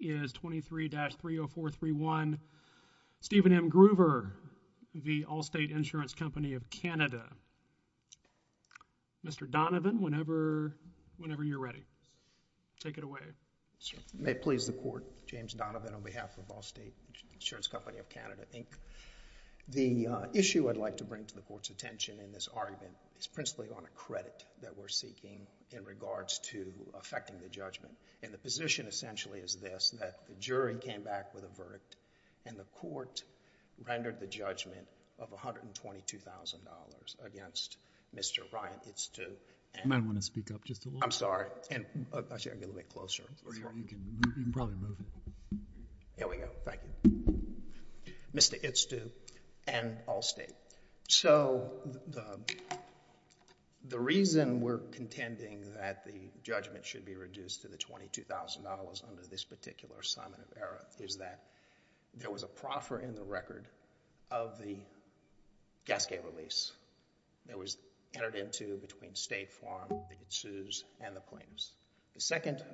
is 23-30431 Steven M. Gruver v. Allstate Insurance Company of Canada. Mr. Donovan, whenever you're ready, take it away. May it please the Court, James Donovan on behalf of Allstate Insurance Company of Canada, Inc. The issue I'd like to bring to the Court's attention in this argument is principally on a credit that we're seeking in regards to affecting the judgment. And the position essentially is this, that the jury came back with a verdict and the Court rendered the judgment of $122,000 against Mr. Ryan Itstu and Allstate. So the reason we're contending that the judgment should be reduced to the $22,000 under this particular assignment of error is that there was a proffer in the record of the gasgate release that was entered into between State Farm, the Itstus, and the plaintiffs. The second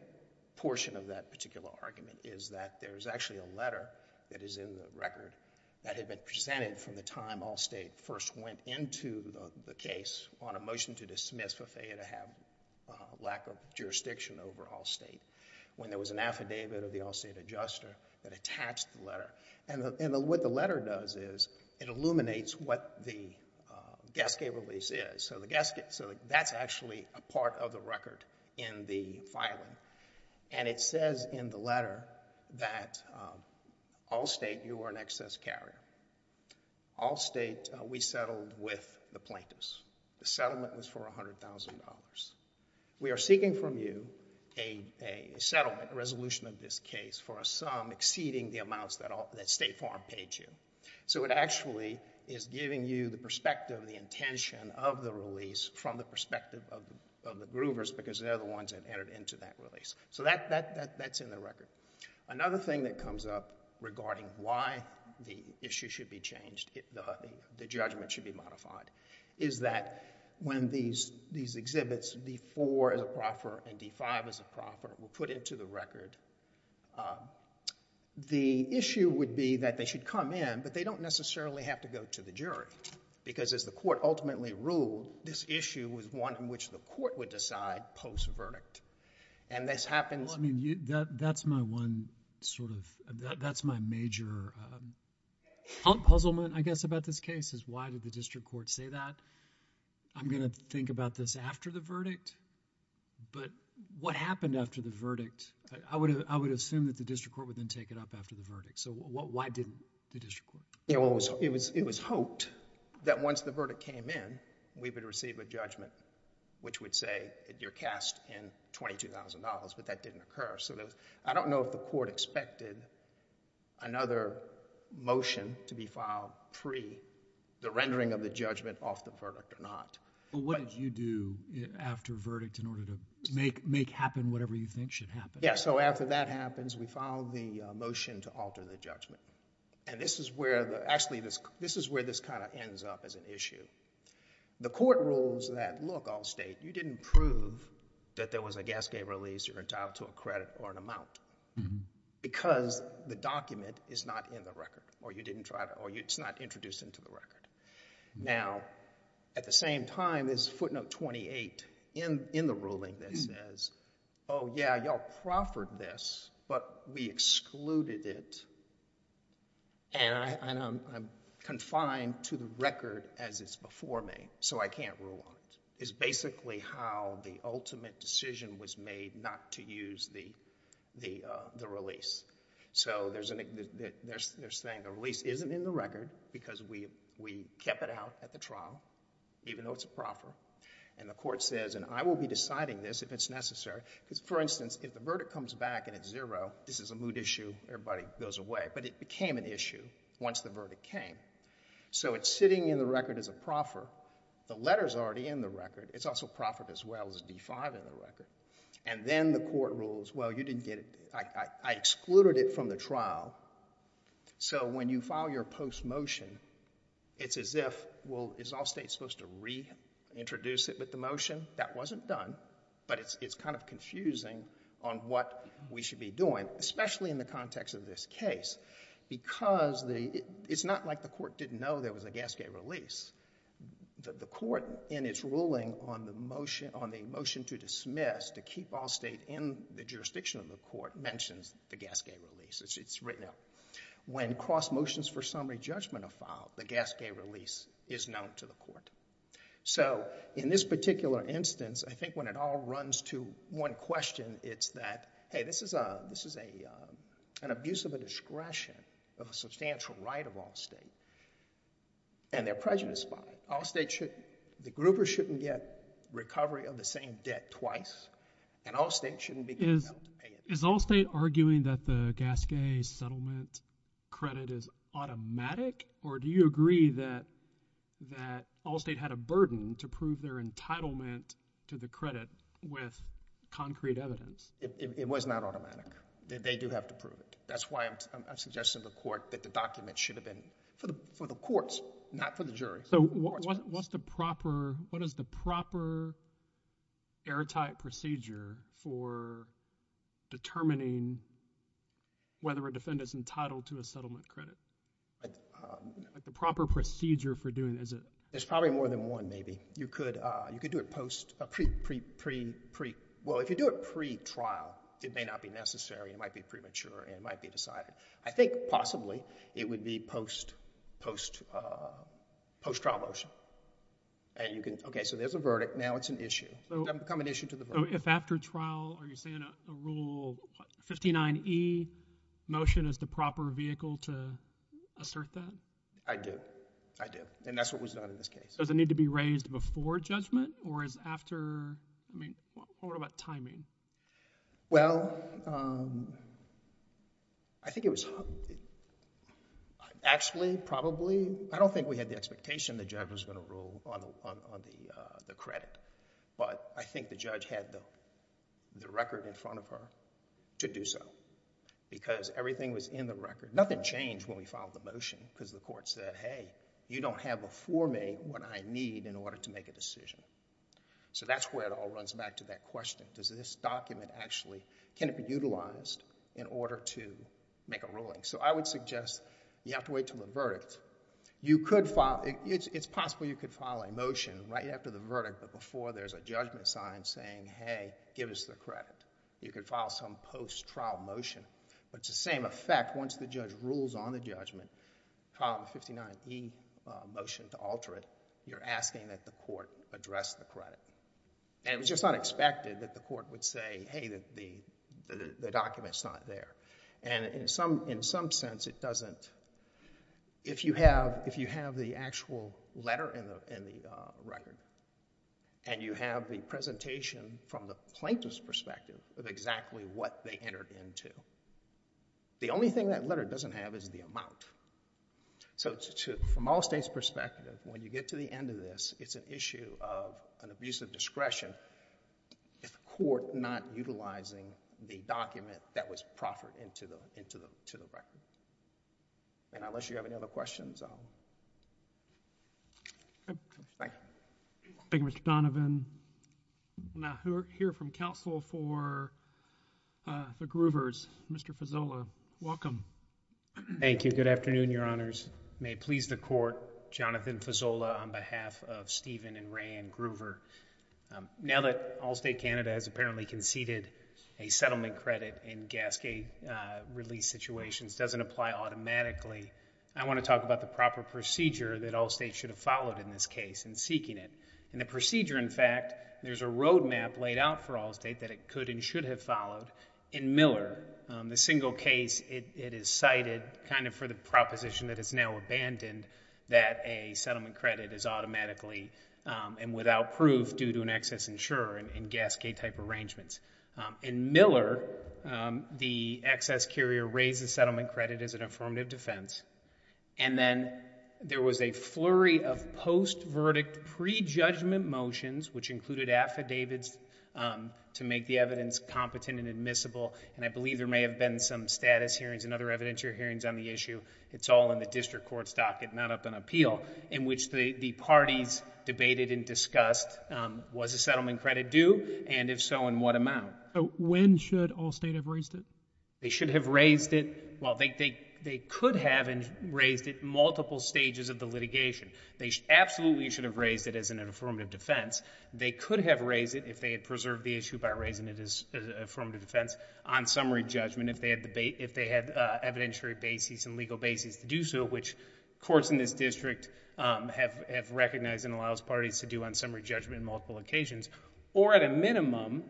portion of that particular argument is that there's actually a letter that is in the record that had been jurisdiction over Allstate when there was an affidavit of the Allstate adjuster that attached the letter. And what the letter does is it illuminates what the gasgate release is. So that's actually a part of the record in the filing. And it says in the letter that Allstate, you are an excess carrier. Allstate, we settled with the plaintiffs. The settlement was for $100,000. We are seeking from you a settlement, a resolution of this case for a sum exceeding the amounts that State Farm paid you. So it actually is giving you the perspective, the intention of the release from the perspective of the groovers because they're the ones that entered into that release. So that's in the record. Another thing that comes up regarding why the issue should be changed, the judgment should be modified, is that when these exhibits, D-4 as a proffer and D-5 as a proffer, were put into the record, the issue would be that they should come in, but they don't necessarily have to go to the jury because, as the court ultimately ruled, this issue was one in which the court would decide post-verdict. And this happens— Well, I mean, that's my one sort of—that's my major puzzlement, I guess, about this case is why did the district court say that? I'm going to think about this after the verdict, but what happened after the verdict? I would assume that the district court would then take it up after the verdict. So why didn't the district court? It was hoped that once the verdict came in, we would receive a judgment which would say you're cast in $22,000, but that didn't occur. So I don't know if the court expected another motion to be filed pre the rendering of the judgment off the verdict or not. But what did you do after verdict in order to make happen whatever you think should happen? Yeah, so after that happens, we filed the motion to alter the judgment. And this is where the—actually, this is where this kind of ends up as an issue. The court rules that, look, Allstate, you didn't prove that there was a gasgate release or entitled to a credit or an amount because the document is not in the record or you didn't try to—or it's not introduced into the record. Now, at the same time, there's footnote 28 in the ruling that says, oh, yeah, y'all proffered this, but we excluded it, and I'm confined to the record as it's before me, so I can't rule on it. It's basically how the ultimate decision was made not to use the release. So there's a—they're saying the release isn't in the record because we kept it out at the trial, even though it's a proffer. And the court says, and I will be deciding this if it's necessary, because, for instance, if the verdict comes back and it's zero, this is a moot issue, everybody goes away. But it became an issue once the verdict came. So it's sitting in the record as a proffer. The letter's already in the record. It's also proffered as well as D-5 in the record. And then the court rules, well, you didn't get it—I excluded it from the trial. So when you file your post-motion, it's as if, well, is Allstate supposed to reintroduce it with the motion? That wasn't done, but it's kind of confusing on what we should be doing, especially in the context of this case, because the—it's not like the court didn't know there was a gasgate release. The court, in its ruling on the motion to dismiss, to keep Allstate in the jurisdiction of the court, mentions the gasgate release. It's written out. When cross motions for summary judgment are filed, the gasgate release is known to the court. So in this particular instance, I think when it all runs to one question, it's that, hey, this is an abuse of a discretion of a substantial right of Allstate, and they're prejudiced by it. Allstate shouldn't—the grouper shouldn't get recovery of the same debt twice, and Allstate shouldn't be compelled to pay it. Is Allstate arguing that the gasgate settlement credit is automatic, or do you agree that Allstate had a burden to prove their entitlement to the credit with concrete evidence? It was not automatic. They do have to prove it. That's why I'm suggesting to the court that the document should have been for the courts, not for the jury. So what's the proper—what is the proper airtight procedure for determining whether a defendant is entitled to a settlement credit? Like the proper procedure for doing— There's probably more than one, maybe. You could do it post—pre—well, if you do it pre-trial, it may not be necessary. It might be premature, and it might be decided. I think possibly it would be post-trial motion. And you can—okay, so there's a verdict. Now it's an issue. It doesn't become an issue to the verdict. So if after trial, are you saying a Rule 59e motion is the proper vehicle to assert that? I do. I do. And that's what was done in this case. Does it need to be raised before judgment, or is after—I mean, what about timing? Well, I think it was—actually, probably, I don't think we had the expectation the judge was going to rule on the credit. But I think the judge had the record in front of her to do so, because everything was in the record. Nothing changed when we filed the motion, because the court said, hey, you don't have before me what I need in order to make a decision. So that's where it all runs back to that question. Does this document actually—can it be utilized in order to make a ruling? So I would suggest you have to wait until the verdict. You could file—it's possible you could file a motion right after the verdict, but before there's a judgment sign saying, hey, give us the credit. You could file some post-trial motion. But it's the same effect. Once the judge rules on the judgment, file a 59E motion to alter it, you're asking that the court address the credit. And it was just not expected that the court would say, hey, the document's not there. And in some sense, it doesn't—if you have the actual letter in the record, and you have the presentation from the plaintiff's perspective of exactly what they entered into, the only thing that letter doesn't have is the amount. So from all states' perspective, when you get to the end of this, it's an issue of an abuse of discretion if the court not utilizing the document that was proffered into the record. And unless you have any other questions, I'll— Thank you, Mr. Donovan. We'll now hear from counsel for the Groovers. Mr. Fazzola, welcome. Thank you. Good afternoon, Your Honors. May it please the court, Jonathan Fazzola on behalf of Stephen and Rae Ann Groover. Now that Allstate Canada has apparently conceded a settlement credit in gas gate release situations doesn't apply automatically, I want to talk about the proper procedure that Allstate should have followed in this case in seeking it. In the procedure, in fact, there's a road map laid out for Allstate that it could and should have followed. In Miller, the single case, it is cited kind of for the proposition that it's now abandoned that a settlement credit is automatically and without proof due to an excess insurer in gas gate type arrangements. In Miller, the excess carrier raises settlement credit as an affirmative defense. And then there was a flurry of post-verdict pre-judgment motions, which included affidavits to make the evidence competent and admissible. And I believe there may have been some status hearings and other evidentiary hearings on the issue. It's all in the district court's docket, not up in appeal, in which the parties debated and discussed was a settlement credit due and if so, in what amount. When should Allstate have raised it? They should have raised it, well, they could have raised it multiple stages of the litigation. They absolutely should have raised it as an affirmative defense. They could have raised it if they had preserved the issue by raising it as an affirmative defense on summary judgment if they had evidentiary bases and legal bases to do so, which courts in this district have recognized and allows parties to do on summary judgment on multiple occasions. Or at a minimum,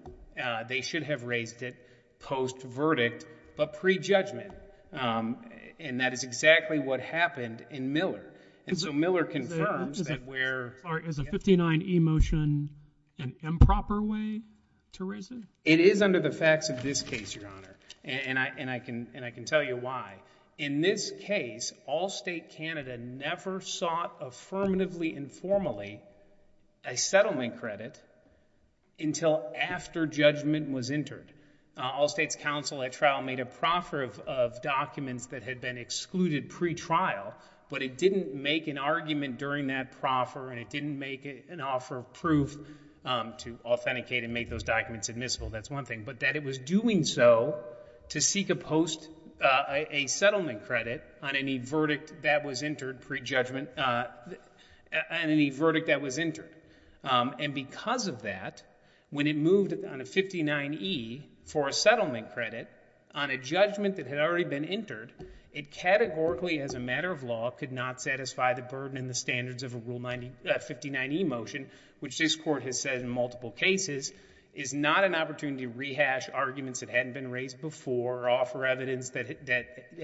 they should have raised it post-verdict, but pre-judgment. And that is exactly what happened in Miller. And so Miller confirms that where... Is a 59E motion an improper way to raise it? It is under the facts of this case, Your Honor. And I can tell you why. In this case, Allstate Canada never sought affirmatively informally a settlement credit until after judgment was entered. Allstate's counsel at trial made a proffer of documents that had been excluded pre-trial, but it didn't make an argument during that proffer and it didn't make an offer of proof to authenticate and make those documents admissible. That's one thing. But that it was doing so to seek a post, a settlement credit on any verdict that was entered pre-judgment, on any verdict that was entered. And because of that, when it moved on a 59E for a settlement credit on a judgment that had already been entered, it categorically as a matter of law could not satisfy the burden and the standards of a Rule 59E motion, which this Court has said in multiple cases, is not an opportunity to rehash arguments that hadn't been raised before or offer evidence that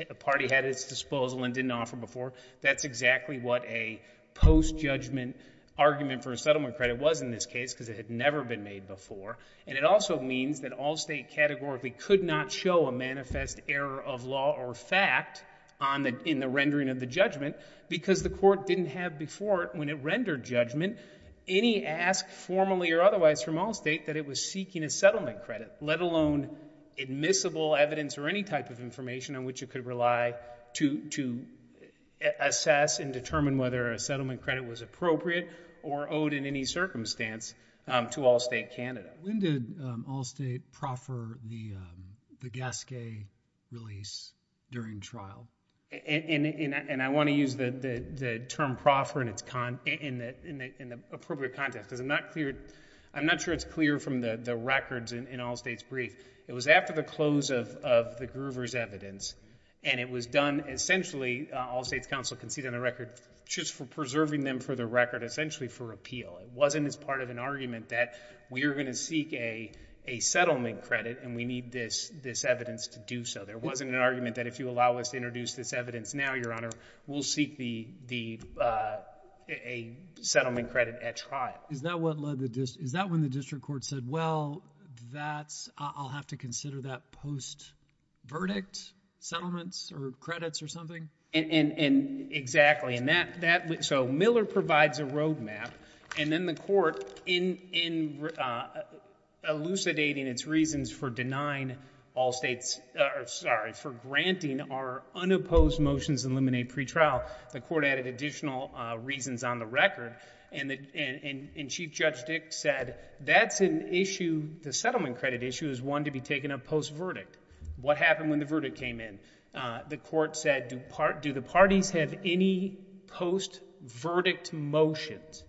a party had at its disposal and didn't offer before. That's exactly what a post-judgment argument for a settlement credit was in this case because it had never been made before. And it also means that Allstate categorically could not show a manifest error of law or fact in the rendering of the judgment because the Court didn't have before, when it rendered judgment, any ask formally or otherwise from Allstate that it was seeking a settlement credit, let alone admissible evidence or any type of information on which it could rely to assess and determine whether a settlement credit was appropriate or owed in any circumstance to Allstate Canada. When did Allstate proffer the Gasquet release during trial? And I want to use the term proffer in the appropriate context because I'm not sure it's clear from the records in Allstate's brief. It was after the close of the Groover's evidence and it was done essentially, Allstate's counsel conceded on the record, just for preserving them for the record, essentially for appeal. It wasn't as part of an argument that we are going to seek a settlement credit and we need this evidence to do so. There wasn't an argument that if you allow us to introduce this evidence now, Your Honor, we'll seek a settlement credit at trial. Is that when the district court said, well, I'll have to consider that post-verdict settlements or credits or something? And exactly. So Miller provides a roadmap and then the Court, in elucidating its reasons for denying Allstate's, sorry, for granting our unopposed motions in limine pre-trial, the Court added additional reasons on the record and Chief Judge Dick said that's an issue, the settlement credit issue, is one to be taken up post-verdict. What happened when the verdict came in? The Court said, do the parties have any post-verdict motions?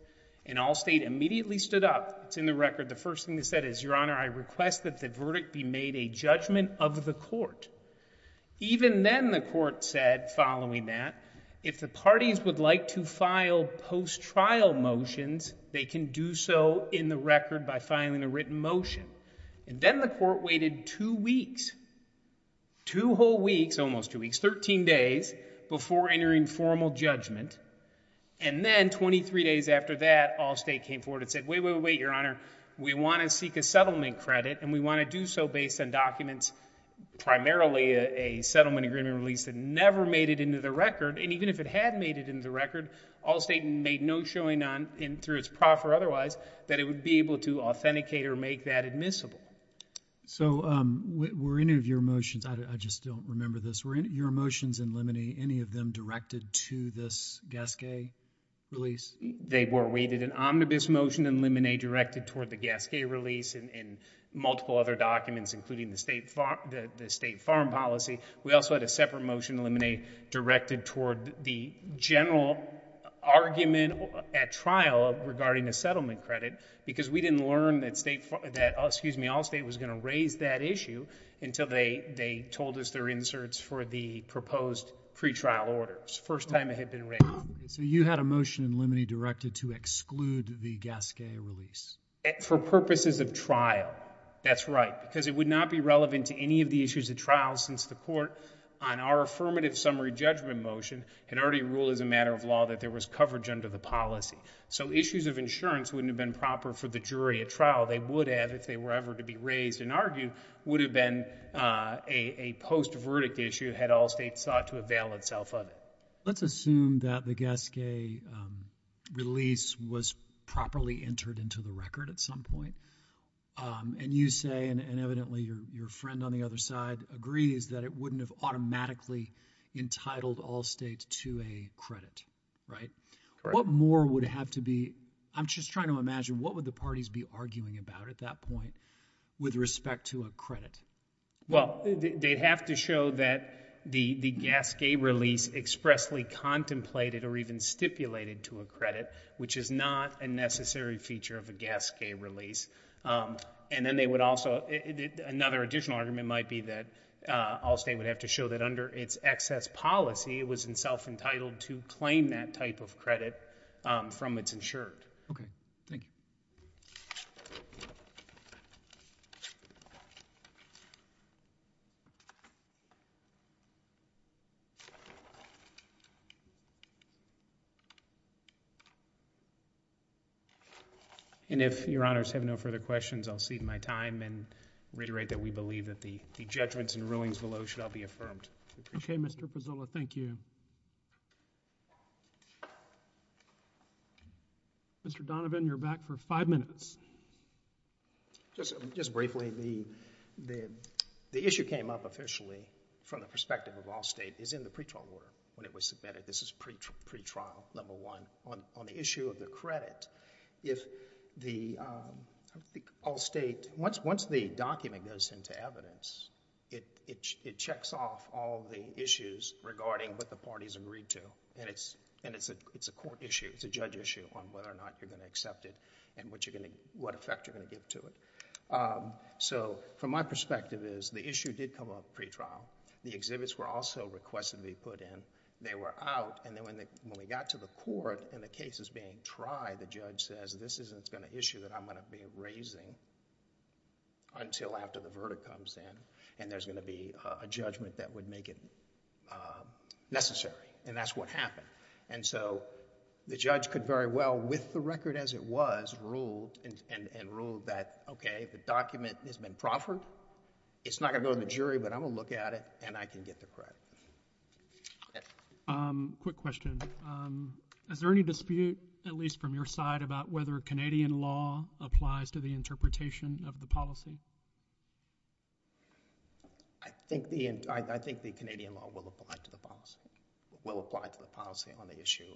And Allstate immediately stood up. It's in the record. The first thing they said is, Your Honor, I request that the verdict be made a judgment of the Court. Even then the Court said, following that, if the parties would like to file post-trial motions, they can do so in the record by filing a written motion. And then the Court waited two weeks, two whole weeks, almost two weeks, 13 days before entering formal judgment. And then 23 days after that, Allstate came forward and said, wait, wait, wait, Your Honor, we want to seek a settlement credit and we want to do so based on documents, primarily a settlement agreement release that never made it into the record. And even if it had made it into the record, Allstate made no showing on, through its prof or otherwise, that it would be able to authenticate or make that admissible. So were any of your motions, I just don't remember this, were any of your motions in limine, any of them directed to this Gasquet release? They were. We did an omnibus motion in limine directed toward the Gasquet release and multiple other documents, including the State Farm Policy. We also had a separate motion in limine directed toward the general argument at trial regarding a settlement credit, because we didn't learn that Allstate was going to raise that issue until they told us their inserts for the proposed pretrial orders, first time it had been raised. So you had a motion in limine directed to exclude the Gasquet release? For purposes of trial, that's right, because it would not be relevant to any of the issues at trial since the Court, on our affirmative summary judgment motion, had already ruled as a matter of law that there was coverage under the policy. So issues of insurance wouldn't have been proper for the jury at trial. They would have, if they were ever to be raised and argued, would have been a post-verdict issue had Allstate sought to avail itself of it. Let's assume that the Gasquet release was properly entered into the record at some point, and you say, and evidently your friend on the other side agrees, that it wouldn't have automatically entitled Allstate to a credit, right? Correct. What more would have to be, I'm just trying to imagine, what would the parties be arguing about at that point with respect to a credit? Well, they'd have to show that the Gasquet release expressly contemplated or even stipulated to a credit, which is not a necessary feature of a Gasquet release. And then they would also, another additional argument might be that Allstate would have to show that under its excess policy, it was self-entitled to claim that type of credit from its insured. Okay, thank you. And if Your Honors have no further questions, I'll cede my time and reiterate that we believe that the judgments and rulings below should all be affirmed. Okay, Mr. Pezzulla, thank you. Mr. Donovan, you're back for five minutes. Just briefly, the issue came up officially from the perspective of Allstate is in the pretrial order when it was submitted. This is pretrial number one. On the issue of the credit, if the Allstate, once the document goes into evidence, it checks off all the issues regarding what the parties agreed to, and it's a court issue, it's a judge issue on whether or not you're going to accept it and what effect you're going to give to it. So from my perspective is, the issue did come up at pretrial. The exhibits were also requested to be put in. They were out, and then when we got to the court and the case is being tried, the judge says, this isn't going to issue that I'm going to be raising until after the verdict comes in, and there's going to be a judgment that would make it necessary, and that's what happened. And so, the judge could very well, with the record as it was, rule and rule that, okay, the document has been proffered, it's not going to go to the jury, but I'm going to look at it and I can get the credit. Quick question. Is there any dispute, at least from your side, about whether Canadian law applies to the interpretation of the policy? I think the Canadian law will apply to the policy, will apply to the policy on the issue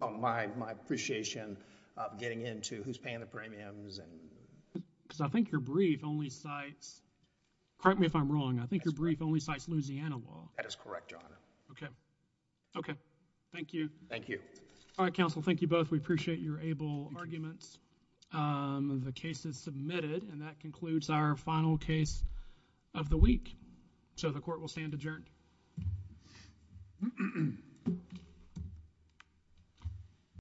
of, and my appreciation of getting into who's paying the premiums and... Because I think your brief only cites, correct me if I'm wrong, I think your brief only cites Louisiana law. That is correct, Your Honor. Okay. Okay. Thank you. Thank you. All right, counsel, thank you both. We appreciate your able arguments. The case is submitted, and that concludes our final case of the week. So, the court will stand adjourned.